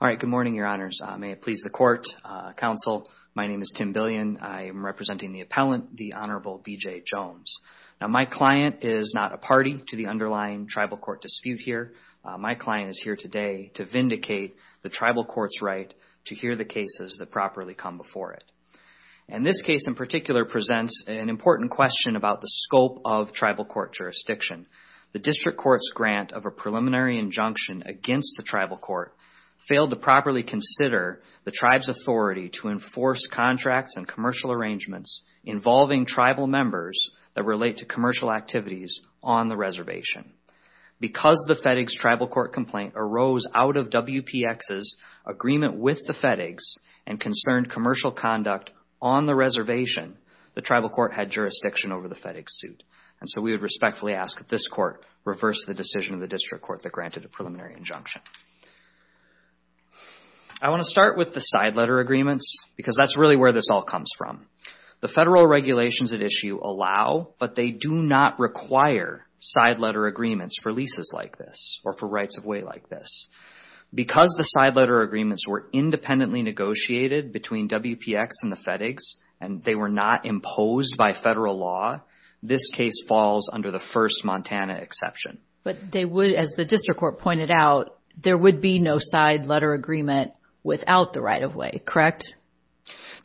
All right. Good morning, your honors. May it please the court, counsel. My name is Tim Billion. I am representing the appellant, the Honorable B.J. Jones. Now, my client is not a party to the underlying tribal court dispute here. My client is here today to vindicate the tribal court's right to hear the cases that properly come before it. And this case in particular presents an important question about the scope of tribal court jurisdiction. The district court's grant of a preliminary injunction against the tribal court failed to properly consider the tribe's authority to enforce contracts and commercial arrangements involving tribal members that relate to commercial activities on the reservation. Because the FedEx tribal court complaint arose out of WPX's agreement with the FedEx and concerned commercial conduct on the reservation, the tribal court had jurisdiction over the FedEx suit. And so we would respectfully ask that this court reverse the decision of the district court that granted a preliminary injunction. I want to start with the side letter agreements because that's really where this all comes from. The federal regulations at issue allow, but they do not require side letter agreements for leases like this or for rights of way like this. Because the side letter agreements were independently negotiated between WPX and the FedEx and they were not imposed by federal law, this case falls under the first Montana exception. But they would, as the district court pointed out, there would be no side letter agreement without the right of way, correct?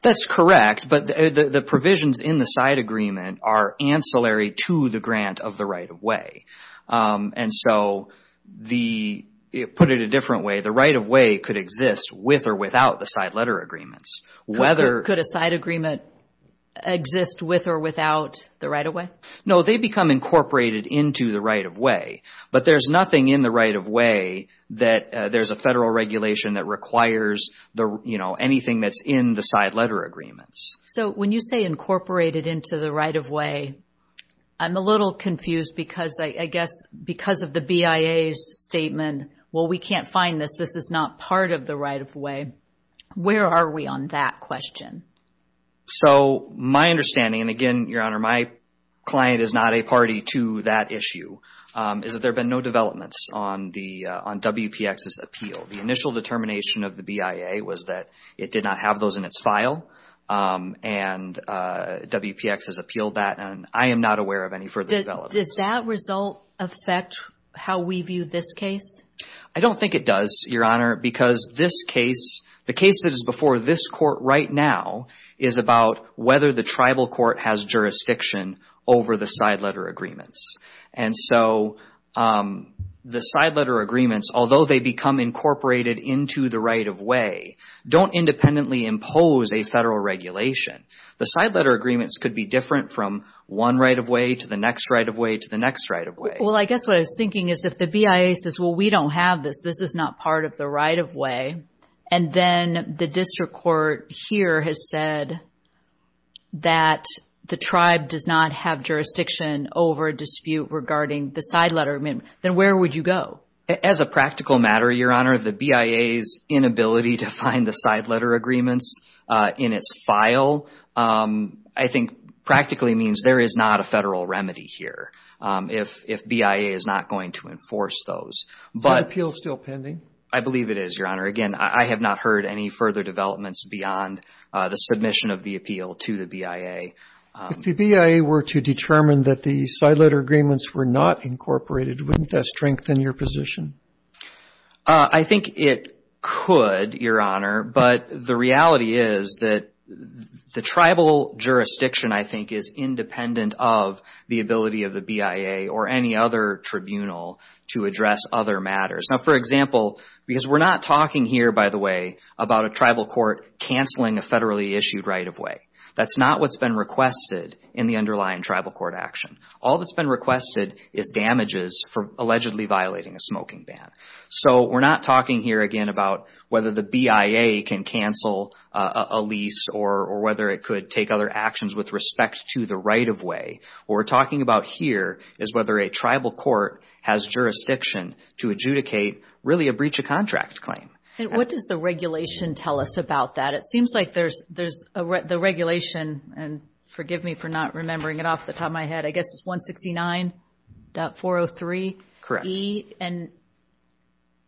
That's correct, but the provisions in the side agreement are ancillary to the grant of the right of way. And so the, put it a different way, the right of way could exist with or without the side letter agreements. Could a side agreement exist with or without the right of way? No, they become incorporated into the right of way. But there's nothing in the right of way that there's a federal regulation that requires anything that's in the side letter agreements. So when you say incorporated into the right of way, I'm a little confused because I guess because of the BIA's statement, well, we can't find this. This is not part of the right of way. Where are we on that question? So my understanding, and again, Your Honor, my client is not a party to that issue, is that there have been no developments on WPX's appeal. The initial determination of the BIA was that it did not have those in its file. And WPX has appealed that, and I am not aware of any further developments. Does that result affect how we view this case? I don't think it does, Your Honor, because this case, the case that is before this court right now is about whether the tribal court has jurisdiction over the side letter agreements. And so the side letter agreements, although they become incorporated into the right of way, don't independently impose a federal regulation. The side letter agreements could be different from one right of way to the next right of way to the next right of way. Well, I guess what I was thinking is if the BIA says, well, we don't have this, this is not part of the right of way, and then the district court here has said that the tribe does not have jurisdiction over a dispute regarding the side letter, then where would you go? As a practical matter, Your Honor, the BIA's inability to find the side letter agreements in its file, I think, practically means there is not a federal remedy here if BIA is not going to enforce those. Is the appeal still pending? I believe it is, Your Honor. Again, I have not heard any further developments beyond the submission of the appeal to the BIA. If the BIA were to determine that the side letter agreements were not incorporated, wouldn't that strengthen your position? I think it could, Your Honor, but the reality is that the tribal jurisdiction, I think, is independent of the ability of the BIA or any other tribunal to address other matters. For example, because we are not talking here, by the way, about a tribal court canceling a federally issued right of way. That is not what has been requested in the underlying tribal court action. All that has been requested is damages for allegedly violating a smoking ban. We are not talking here, again, about whether the BIA can cancel a lease or whether it could take other actions with respect to the right of way. What we are talking about here is whether a tribal court has jurisdiction to adjudicate, really, a breach of contract claim. What does the regulation tell us about that? It seems like the regulation, and forgive me for not remembering it off the top of my head, I guess it is 169.403E.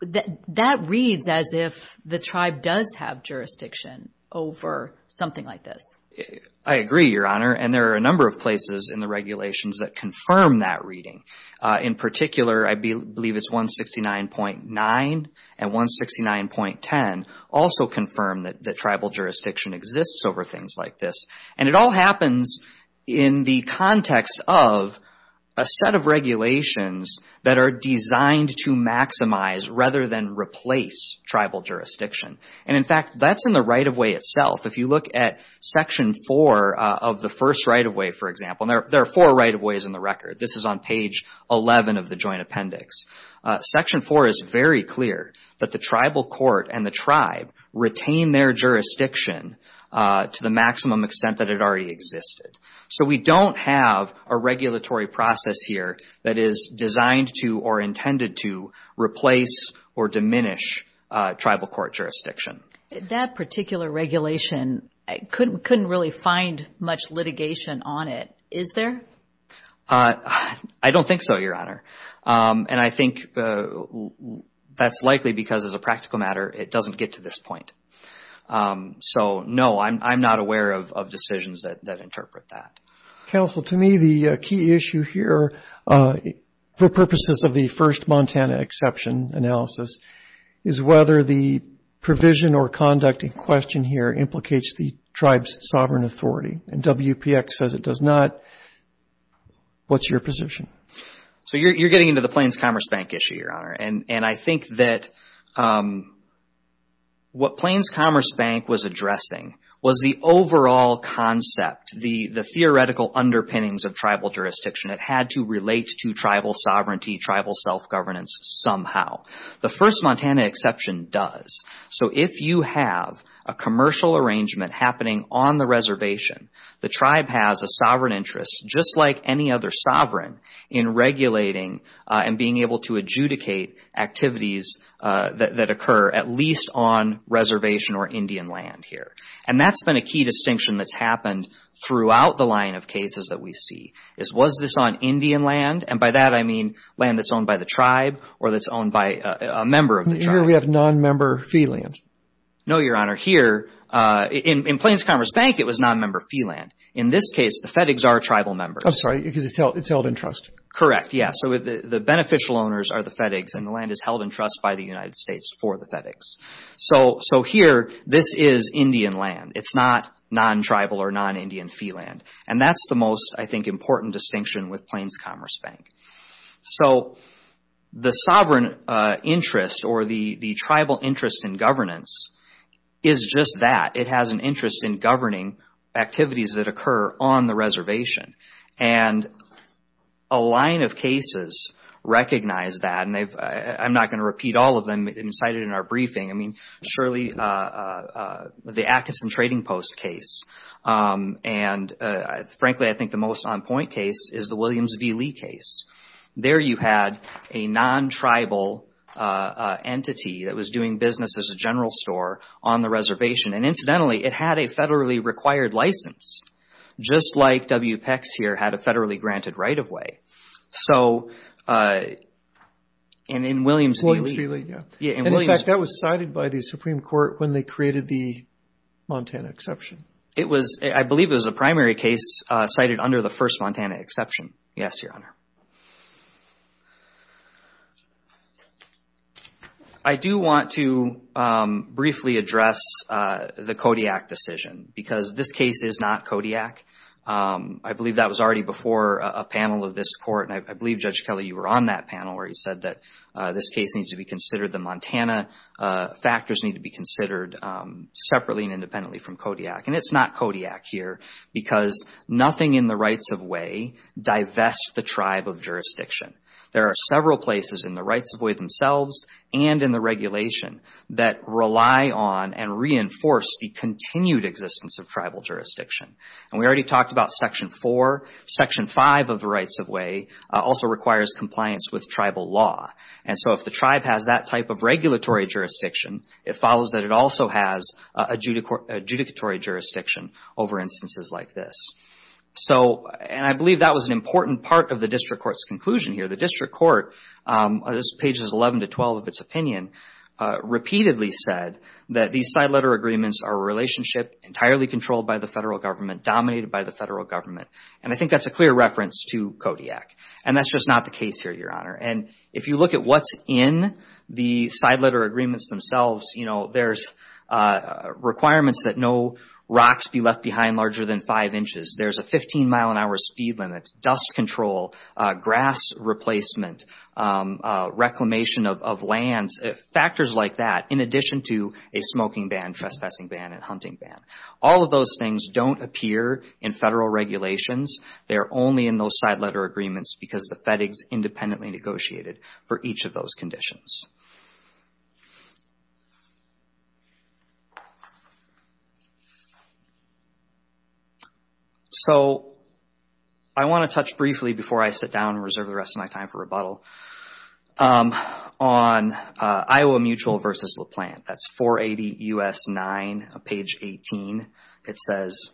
That reads as if the tribe does have jurisdiction over something like this. I agree, Your Honor, and there are a number of places in the regulations that confirm that reading. In particular, I believe it is 169.9 and 169.10 also confirm that tribal jurisdiction exists over things like this. It all happens in the context of a set of regulations that are designed to maximize rather than replace tribal jurisdiction. In fact, that is in the right of way itself. If you look at Section 4 of the first right of way, for example, there are four right of ways in the record. This is on page 11 of the Joint Appendix. Section 4 is very clear that the tribal court and the tribe retain their jurisdiction to the maximum extent that it already existed. We do not have a regulatory process here that is designed to or intended to replace or diminish tribal court jurisdiction. That particular regulation, I could not really find much litigation on it. Is there? I do not think so, Your Honor. I think that is likely because as a practical matter, it does not get to this point. No, I am not aware of decisions that interpret that. Counsel, to me, the key issue here for purposes of the first Montana exception analysis is whether the provision or conduct in question here implicates the tribe's sovereign authority. WPX says it does not. What is your position? You are getting into the Plains Commerce Bank issue, Your Honor. I think that what Plains Commerce Bank was addressing was the overall concept, the theoretical underpinnings of tribal jurisdiction. It had to relate to tribal sovereignty, tribal self-governance somehow. The first Montana exception does. If you have a commercial arrangement happening on the reservation, the tribe has a sovereign interest, just like any other sovereign, in regulating and being able to adjudicate activities that occur at least on reservation or Indian land here. That has been a key distinction that has happened throughout the line of cases that we see. Was this on Indian land? By that, I mean land that is owned by the tribe or that is owned by a member of the tribe. Here, we have non-member fee land. No, Your Honor. Here, in Plains Commerce Bank, it was non-member fee land. In this case, the FedEx are tribal members. I'm sorry. It's held in trust. Correct. Yes. The beneficial owners are the FedEx and the land is held in trust by the United States for the FedEx. Here, this is Indian land. It's not non-tribal or non-Indian fee land. That's the most, I think, important distinction with Plains Commerce Bank. So, the sovereign interest or the tribal interest in governance is just that. It has an interest in governing activities that occur on the reservation. A line of cases recognize that and I'm not going to repeat all of them cited in our briefing. Surely, the Atkinson Trading Post case and frankly, I think the most on point case is the Williams v. Lee case. There, you had a non-tribal entity that was doing business as a general store on the reservation. Incidentally, it had a federally required license just like WPEX here had a federally granted right-of-way. So, in Williams v. Lee... In Williams v. Lee, yes. In fact, that was cited by the Supreme Court when they created the Montana Exception. It was, I believe it was a primary case cited under the first Montana Exception. Yes, Your Honor. I do want to briefly address the Kodiak decision because this case is not Kodiak. I believe that was already before a panel of this Court and I believe, Judge Kelly, you were on that panel where you said that this case needs to be considered. The Montana factors need to be considered separately and independently from Kodiak. And it's not Kodiak here because nothing in the rights-of-way divest the tribe of jurisdiction. There are several places in the rights-of-way themselves and in the regulation that rely on and reinforce the continued existence of tribal jurisdiction. And we already talked about Section 4. Section 5 of the rights-of-way also requires compliance with tribal law. And so, if the tribe has that type of regulatory jurisdiction, it follows that it also has adjudicatory jurisdiction over instances like this. So, and I believe that was an important part of the District Court's conclusion here. The District Court, this page is 11 to 12 of its opinion, repeatedly said that these side letter agreements are a relationship entirely controlled by the Federal Government, dominated by the Federal Government. And I think that's a clear reference to Kodiak. And that's just not the case here, Your Honor. And if you look at what's in the side letter agreements themselves, you know, there's requirements that no rocks be left behind larger than five inches. There's a 15-mile-an-hour speed limit, dust control, grass replacement, reclamation of lands, factors like that, in addition to a smoking ban, trespassing ban, and hunting ban. All of those things don't appear in Federal regulations. They're only in those side letter agreements because the FedEx independently negotiated for each of those conditions. So I want to touch briefly, before I sit down and reserve the rest of my time for rebuttal, on Iowa Mutual versus LaPlante. That's 480 U.S. 9, page 18. It says,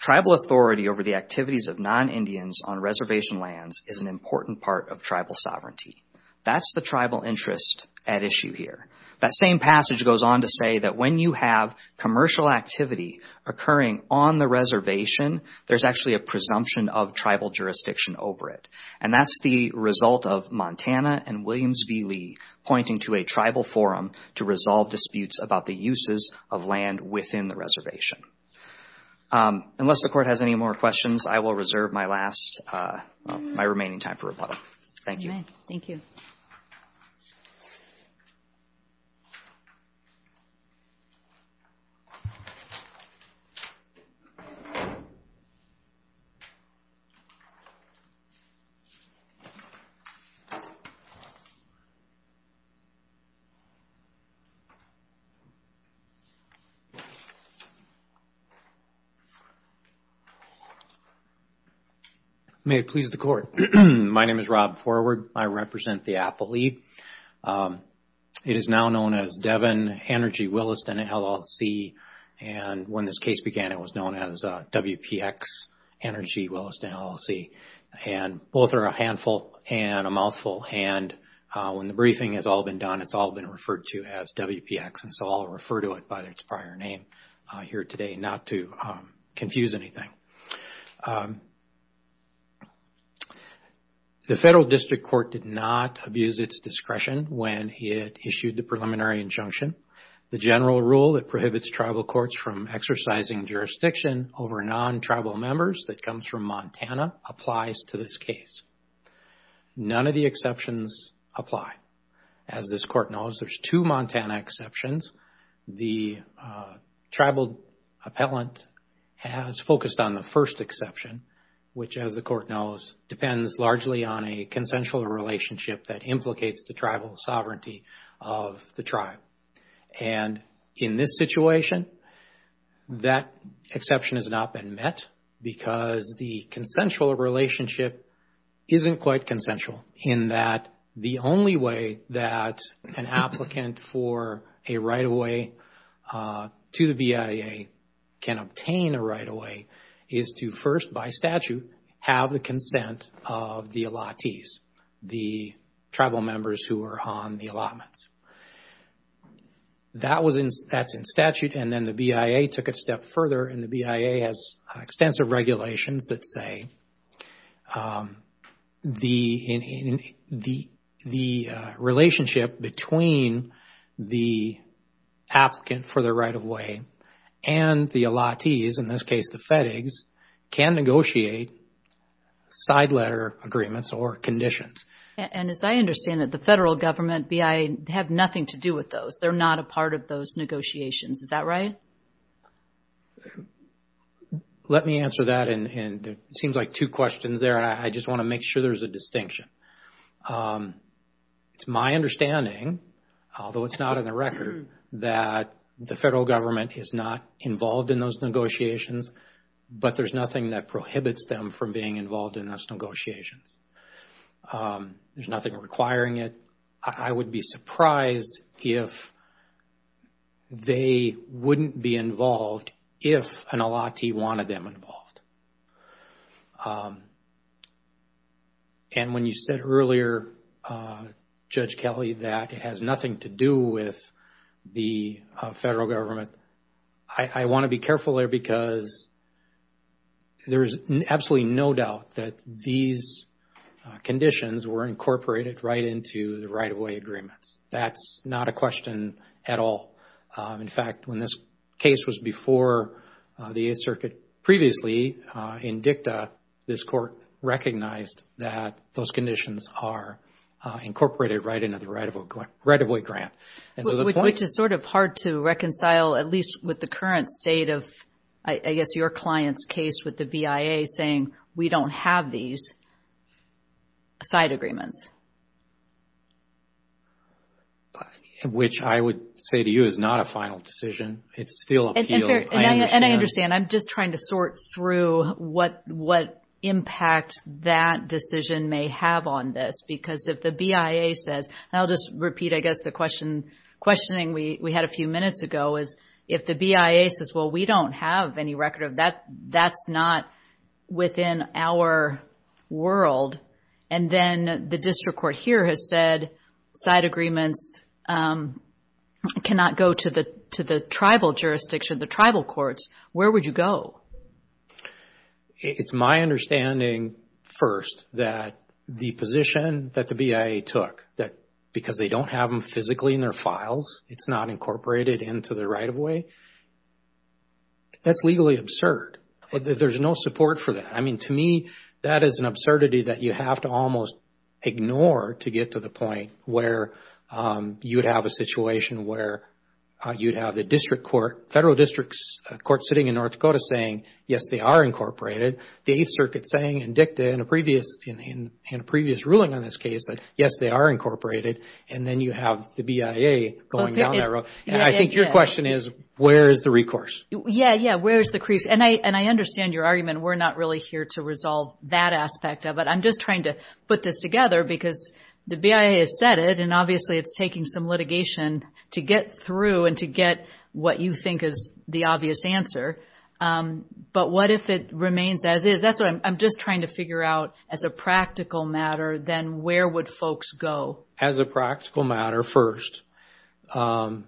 tribal authority over the activities of non-Indians on reservation lands is an important part of tribal sovereignty. That's the tribal interest at issue here. That same passage goes on to say that when you have commercial activity occurring on the reservation, there's actually a presumption of tribal jurisdiction over it. And that's the result of Montana and Williams v. Lee pointing to a tribal forum to resolve disputes about the uses of land within the reservation. Unless the Court has any more questions, I will reserve my remaining time for rebuttal. May it please the Court. My name is Rob Forward. I represent the Apple League. It is now known as Devon, Hannergy, Williston, LLC. And when this case began, it was known as WPX, Hannergy, Williston, LLC. And both are a handful and a mouthful. And when the briefing has all been done, it's all been referred to as WPX. And so I'll refer to it by its prior name here today, not to confuse anything. The Federal District Court did not abuse its discretion when it issued the preliminary injunction. The general rule that prohibits tribal courts from exercising jurisdiction over non-tribal members that comes from Montana applies to this case. None of the exceptions apply. As this Court knows, there's two Montana exceptions. The tribal appellant has focused on the first exception, which as the Court knows, depends largely on a consensual relationship that implicates the tribal sovereignty of the tribe. And in this situation, that exception has not been met because the consensual relationship isn't quite consensual in that the only way that an applicant for a right-of-way to the BIA can obtain a right-of-way is to first, by statute, have the consent of the allottees, the tribal members who are on the allotments. That's in statute and then the BIA took it a step further and the BIA has extensive regulations that say the relationship between the applicant for the right-of-way and the allottees, in this case, the FedEx, can negotiate side letter agreements or conditions. And as I understand it, the Federal Government, BIA, have nothing to do with those. They're not a part of those negotiations. Is that right? Let me answer that and it seems like two questions there and I just want to make sure there's a distinction. It's my understanding, although it's not in the record, that the Federal Government is not involved in those negotiations, but there's nothing that prohibits them from being involved in those negotiations. There's nothing requiring it. I would be surprised if the Federal Government, they wouldn't be involved if an allottee wanted them involved. And when you said earlier, Judge Kelly, that it has nothing to do with the Federal Government, I want to be careful there because there is absolutely no doubt that these conditions were incorporated right into the right-of-way agreements. That's not a question at all. In fact, when this case was before the Eighth Circuit previously in DICTA, this Court recognized that those conditions are incorporated right into the right-of-way grant. Which is sort of hard to reconcile, at least with the current state of, I guess, your client's case with the BIA saying, we don't have these side agreements. Which I would say to you is not a final decision. It's still appeal. And I understand. I'm just trying to sort through what impact that decision may have on this because if the BIA says, and I'll just repeat, I guess, the questioning we had a few minutes ago is, if the BIA says, well, we don't have any record of that, that's not within our world, and then the district court here has said side agreements cannot go to the tribal jurisdiction, the tribal courts, where would you go? It's my understanding first that the position that the BIA took, that because they don't have them physically in their files, it's not incorporated into the right-of-way, that's legally absurd. There's no support for that. I mean, to me, that is an absurdity that you have to almost ignore to get to the point where you'd have a situation where you'd have the district court, federal district court sitting in North Dakota saying, yes, they are incorporated. The Eighth Circuit saying in DICTA in a previous ruling on this case that, yes, they are incorporated, and then you have the BIA going down that road. I think your question is, where is the recourse? Yeah, yeah, where is the crease? And I understand your argument. We're not really here to resolve that aspect of it. I'm just trying to put this together because the BIA has said it, and obviously it's taking some litigation to get through and to get what you think is the obvious answer, but what if it remains as is? That's what I'm just trying to figure out as a practical matter, then where would folks go? As a practical matter, first, either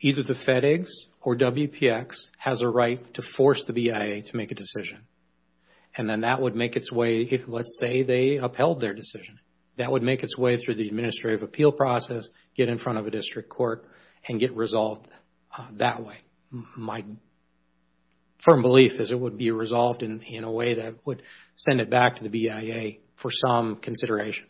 the FedEx or WPX has a right to force the BIA to make a decision, and then that would make its way. Let's say they upheld their decision. That would make its way through the administrative appeal process, get in front of a district court, and get resolved that way. My firm belief is it would be resolved in a way that would send it back to the BIA for some consideration.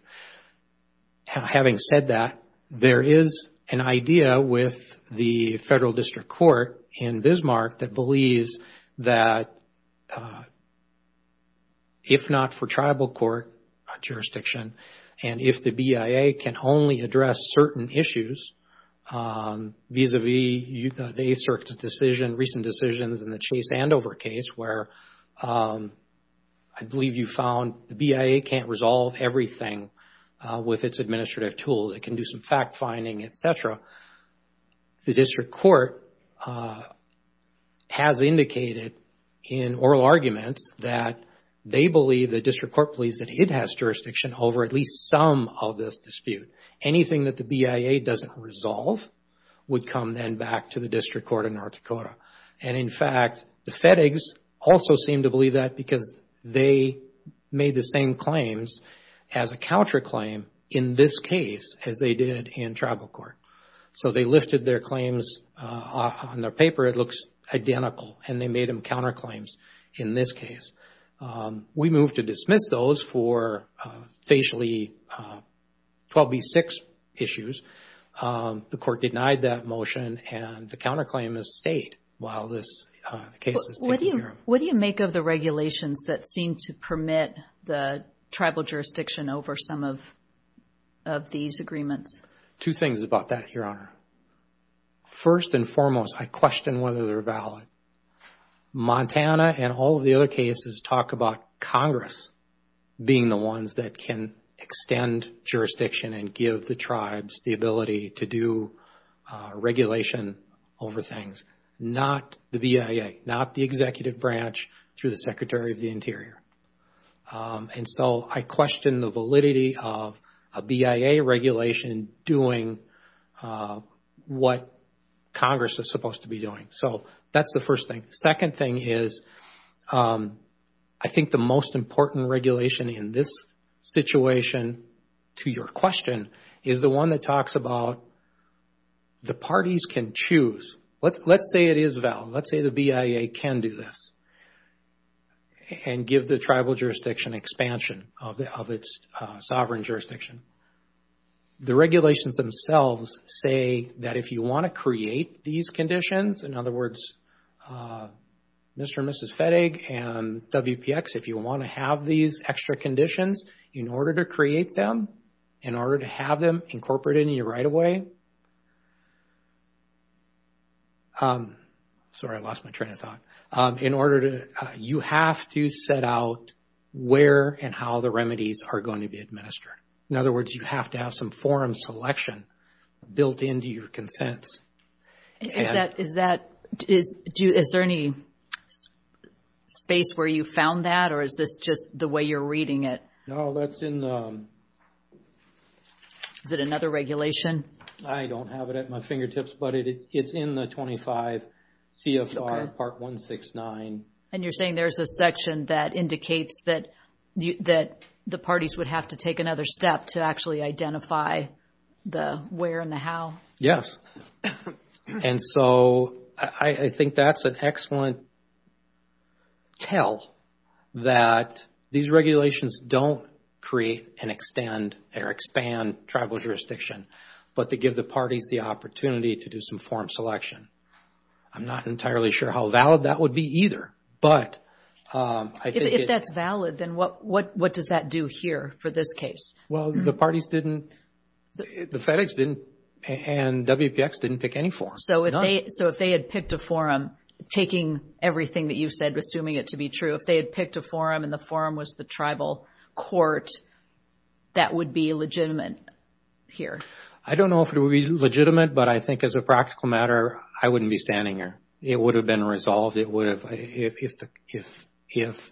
Having said that, there is an idea with the Federal District Court in Bismarck that believes that if not for tribal court jurisdiction, and if the BIA can only address certain issues vis-a-vis the Eighth Circuit decision, recent decisions in the Chase Andover case where I believe you found the BIA can't resolve everything with its administrative tools, it can do some fact-finding, etc., the district court has indicated in oral arguments that they believe, the district court believes, that it has jurisdiction over at least some of this dispute. Anything that the BIA doesn't resolve would come then back to the district court in North Dakota. In fact, the FedEx also seemed to believe that because they made the same claims as a counterclaim in this case as they did in tribal court. They lifted their claims on their paper. It looks identical, and they made them counterclaims in this case. We moved to dismiss those for facially 12B6 issues. The court denied that motion, and the counterclaim has stayed while this case is taken care of. What do you make of the regulations that seem to permit the tribal jurisdiction over some of these agreements? Two things about that, Your Honor. First and foremost, I question whether they're valid. Montana and all of the other cases talk about Congress being the ones that can extend jurisdiction and give the tribes the ability to do regulation over things, not the BIA, not the executive branch through the Secretary of the Interior. I question the validity of a BIA regulation doing what Congress is supposed to be doing. That's the first thing. Second thing is, I think the most important regulation in this situation, to your question, is the one that talks about the parties can choose. Let's say it is valid. Let's say the BIA can do this and give the tribal jurisdiction expansion of its sovereign jurisdiction. The regulations themselves say that if you want to create these conditions, in other words, Mr. and Mrs. Fedig and WPX, if you want to have these extra conditions in order to create them, in order to have them incorporated in your right-of-way, you have to set out where and how the remedies are going to be administered. In other words, you have to have some forum selection built into your consents. Is there any space where you found that, or is this just the way you're reading it? No, that's in the... Is it another regulation? I don't have it at my fingertips, but it's in the 25 CFR Part 169. You're saying there's a section that indicates that the parties would have to take another step to actually identify the where and the how? Yes. I think that's an excellent tell that these regulations don't have to be in the form to create and extend or expand tribal jurisdiction, but to give the parties the opportunity to do some forum selection. I'm not entirely sure how valid that would be either, but I think it... If that's valid, then what does that do here for this case? Well, the parties didn't... The Fedex didn't and WPX didn't pick any forum, none. So if they had picked a forum, taking everything that you've said, assuming it to be true, if they had picked a forum and the forum was the tribal court, that would be legitimate here? I don't know if it would be legitimate, but I think as a practical matter, I wouldn't be standing here. It would have been resolved. If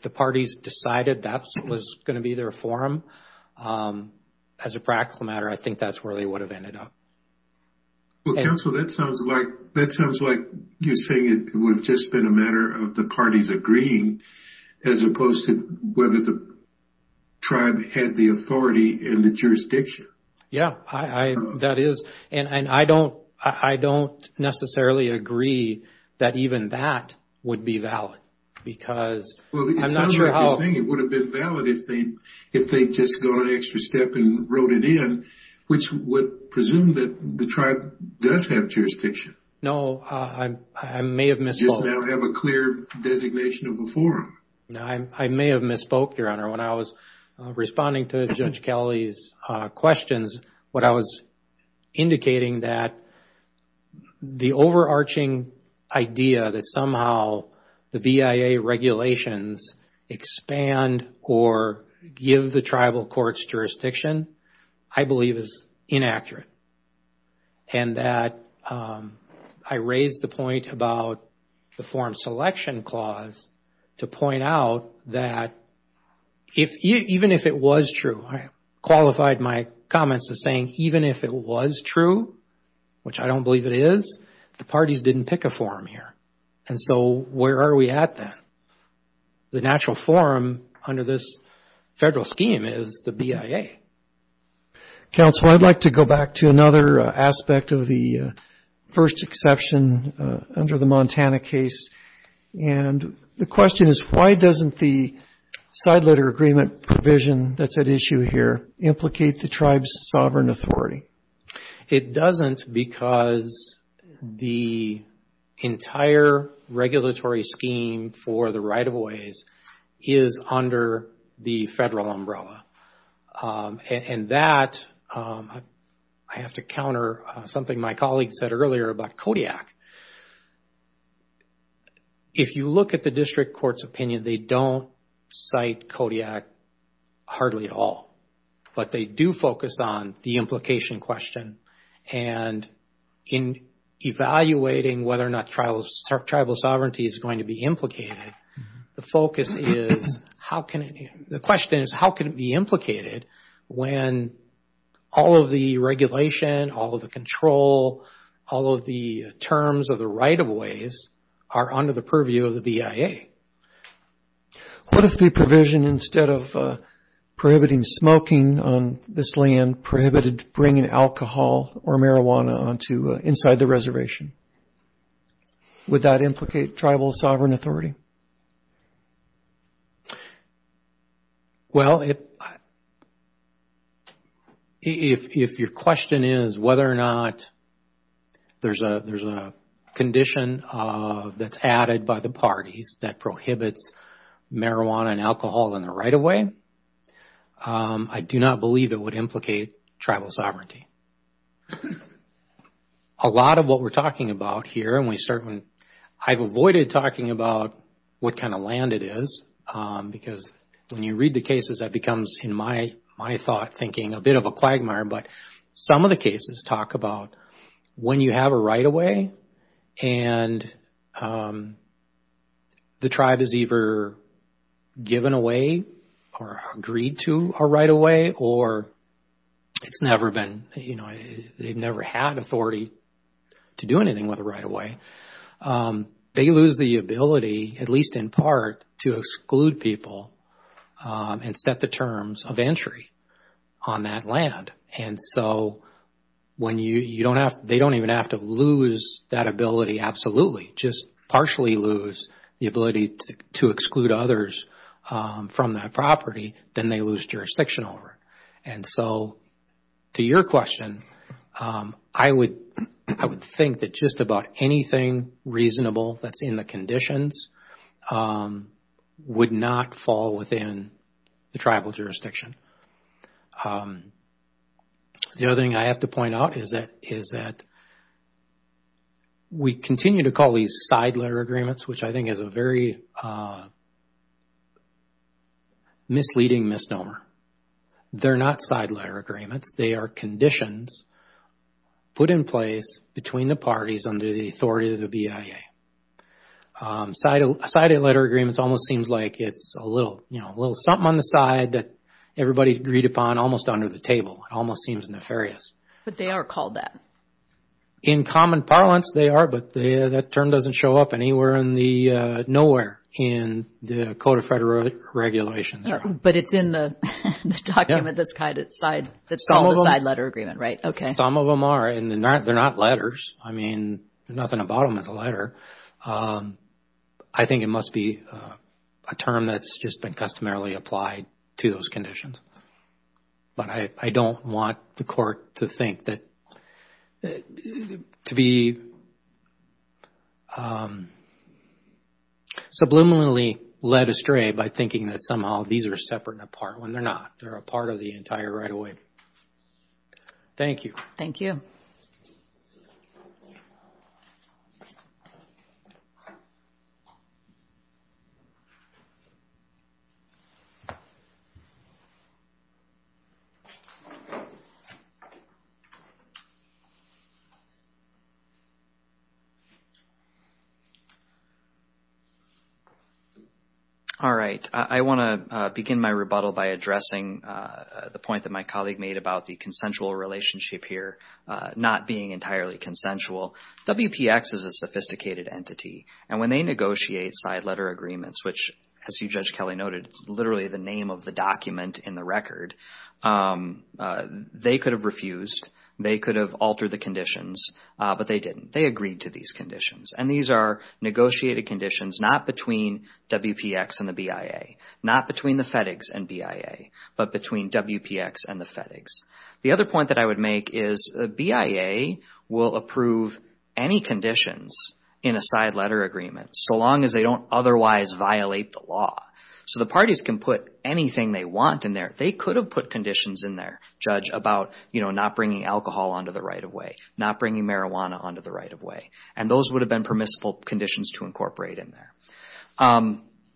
the parties decided that was going to be their forum, as a practical matter, I think that's where they would have ended up. Well, counsel, that sounds like you're saying it would have just been a matter of the parties agreeing, as opposed to whether the tribe had the authority and the jurisdiction. Yeah, that is. And I don't necessarily agree that even that would be valid, because I'm Well, it sounds like you're saying it would have been valid if they'd just gone an extra step and wrote it in, which would presume that the tribe does have jurisdiction. No, I may have missed both. Just now have a clear designation of a forum. I may have misspoke, Your Honor. When I was responding to Judge Kelly's questions, what I was indicating that the overarching idea that somehow the BIA regulations expand or give the tribal courts jurisdiction, I believe is inaccurate. And that I raised the point about the forum selection clause to point out that even if it was true, I qualified my comments as saying even if it was true, which I don't believe it is, the parties didn't pick a forum here. And so where are we at then? The natural forum under this federal scheme is the BIA. Counsel, I'd like to go back to another aspect of the first exception under the Montana case. And the question is, why doesn't the side letter agreement provision that's at issue here implicate the tribe's sovereign authority? It doesn't because the entire regulatory scheme for the right-of-ways is under the federal umbrella. And that, I have to counter something my colleague said earlier about Kodiak. If you look at the district court's opinion, they don't cite Kodiak hardly at all. But they do focus on the implication question. And in evaluating whether or not tribal sovereignty is going to be implicated, the question is, how can it be implicated when all of the regulation, all of the control, all of the terms of the right-of-ways are under the purview of the BIA? What if the provision, instead of prohibiting smoking on this land, prohibited bringing alcohol or marijuana inside the reservation? Would that implicate tribal sovereign authority? Well, if your question is whether or not there's a condition that's added by the parties that prohibits marijuana and alcohol in the right-of-way, I do not believe it would implicate tribal sovereignty. A lot of what we're talking about here, and we certainly, I've avoided talking about what kind of land it is because when you read the cases, that becomes, in my thought, thinking a bit of a quagmire, but some of the cases talk about when you have a right-of-way and the tribe is either given away or agreed to a right-of-way or it's never been, you know, they've never had authority to do anything with a right-of-way, they lose the ability, at least in part, to exclude people and set the terms of entry on that land. And so, when you don't have, they don't even have to lose that ability absolutely, just partially lose the ability to exclude others from that property, then they lose jurisdiction over it. And so, to your question, I would think that just about anything reasonable that's in the conditions would not fall within the tribal jurisdiction. The other thing I have to point out is that we continue to call these side letter agreements, which I think is a very misleading misnomer. They're not side letter agreements. They are conditions put in place between the parties under the authority of the BIA. Side letter agreements almost seems like it's a little, you know, a little something on the side that everybody agreed upon almost under the table. It almost seems nefarious. But they are called that. In common parlance, they are, but that term doesn't show up anywhere in the nowhere in the Code of Federal Regulations. But it's in the document that's called the side letter agreement, right? Okay. Some of them are, and they're not letters. I mean, there's nothing about them as a letter. I think it must be a term that's just been customarily applied to those conditions. But I don't want the court to think that, to be subliminally led astray by thinking that somehow these are separate and apart when they're not. They're a part of the entire right of way. Thank you. Thank you. All right. I want to begin my rebuttal by addressing the point that my colleague made about the consensual relationship here not being entirely consensual. WPX is a sophisticated entity. And when they negotiate side letter agreements, which, as you, Judge Kelly, noted, literally the name of the document in the record, they could have refused. They could have altered the conditions. But they didn't. They agreed to these conditions. And these are negotiated conditions not between WPX and the BIA, not between the FedEx and BIA, but between WPX and the FedEx. The other point that I would make is the BIA will approve any conditions in a side letter agreement so long as they don't otherwise violate the law. So the parties can put anything they want in there. They could have put conditions in there, Judge, about, you know, not bringing alcohol onto the right of way, not bringing marijuana onto the right of way. And those would have been permissible conditions to incorporate in there.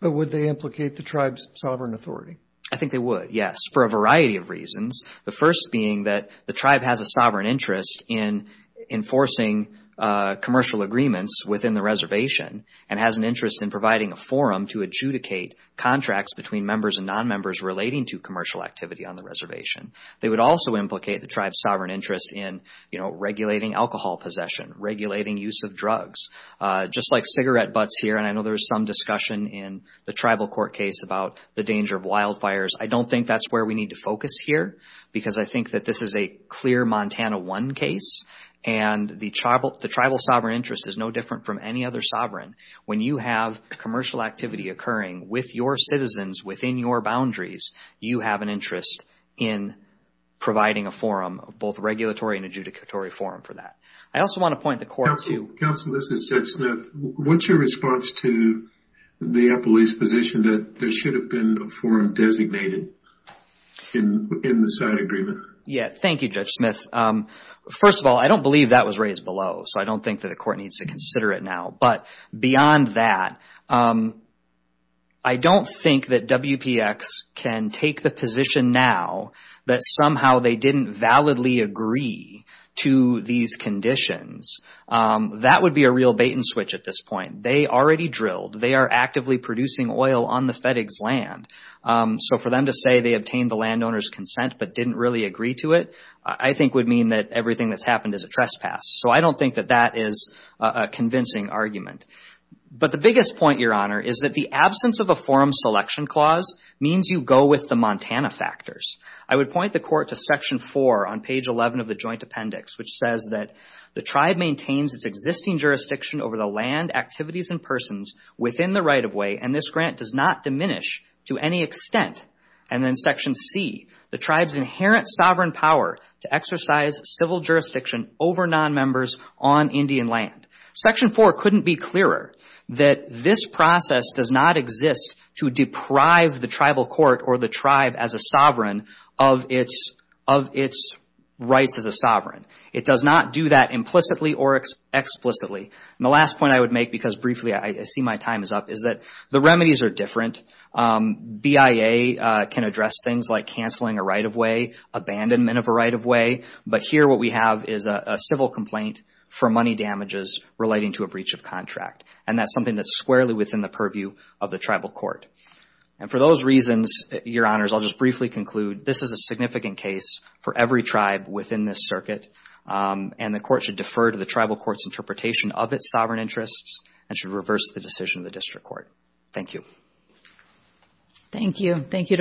But would they implicate the tribe's sovereign authority? I think they would, yes, for a variety of reasons. The first being that the tribe has a sovereign interest in enforcing commercial agreements within the reservation and has an interest in providing a forum to adjudicate contracts between members and non-members relating to commercial activity on the reservation. They would also implicate the tribe's sovereign interest in, you know, regulating alcohol possession, regulating use of drugs. Just like cigarette butts here, and I know there was some discussion in the tribal court case about the danger of wildfires, I don't think that's where we need to focus here because I think that this is a clear Montana 1 case and the tribal sovereign interest is no different from any other sovereign. When you have commercial activity occurring with your citizens within your boundaries, you have an interest in providing a forum, both regulatory and adjudicatory forum for that. I also want to point the court to you. Counsel, this is Judge Smith. What's your response to the appellee's position that there should have been a forum designated in the side agreement? Yeah, thank you, Judge Smith. First of all, I don't believe that was raised below, so I don't think that the court needs to consider it now. But beyond that, I don't think that WPX can take the position now that somehow they didn't validly agree to these conditions. That would be a real bait and switch at this point. They already drilled. They are actively producing oil on the FedEx land. So for them to say they obtained the landowner's consent but didn't really agree to it, I think would mean that everything that's happened is a trespass. So I don't think that that is a convincing argument. But the biggest point, Your Honor, is that the absence of a forum selection clause means you go with the Montana factors. I would point the court to Section 4 on page 11 of the Joint Appendix, which says that the tribe maintains its existing jurisdiction over the land, activities, and persons within the right-of-way, and this grant does not diminish to any extent. And then Section C, the tribe's inherent sovereign power to exercise civil jurisdiction over nonmembers on Indian land. Section 4 couldn't be clearer that this process does not exist to deprive the tribal court or the tribe as a sovereign of its rights as a sovereign. It does not do that implicitly or explicitly. And the last point I would make, because briefly I see my time is up, is that the remedies are different. BIA can address things like canceling a right-of-way, abandonment of a right-of-way, but here what we have is a civil complaint for money damages relating to a breach of contract. And that's something that's squarely within the purview of the tribal court. And for those reasons, Your Honors, I'll just briefly conclude this is a significant case for every tribe within this circuit, and the court should defer to the tribal court's interpretation of its sovereign interests and should reverse the decision of the district court. Thank you. Thank you.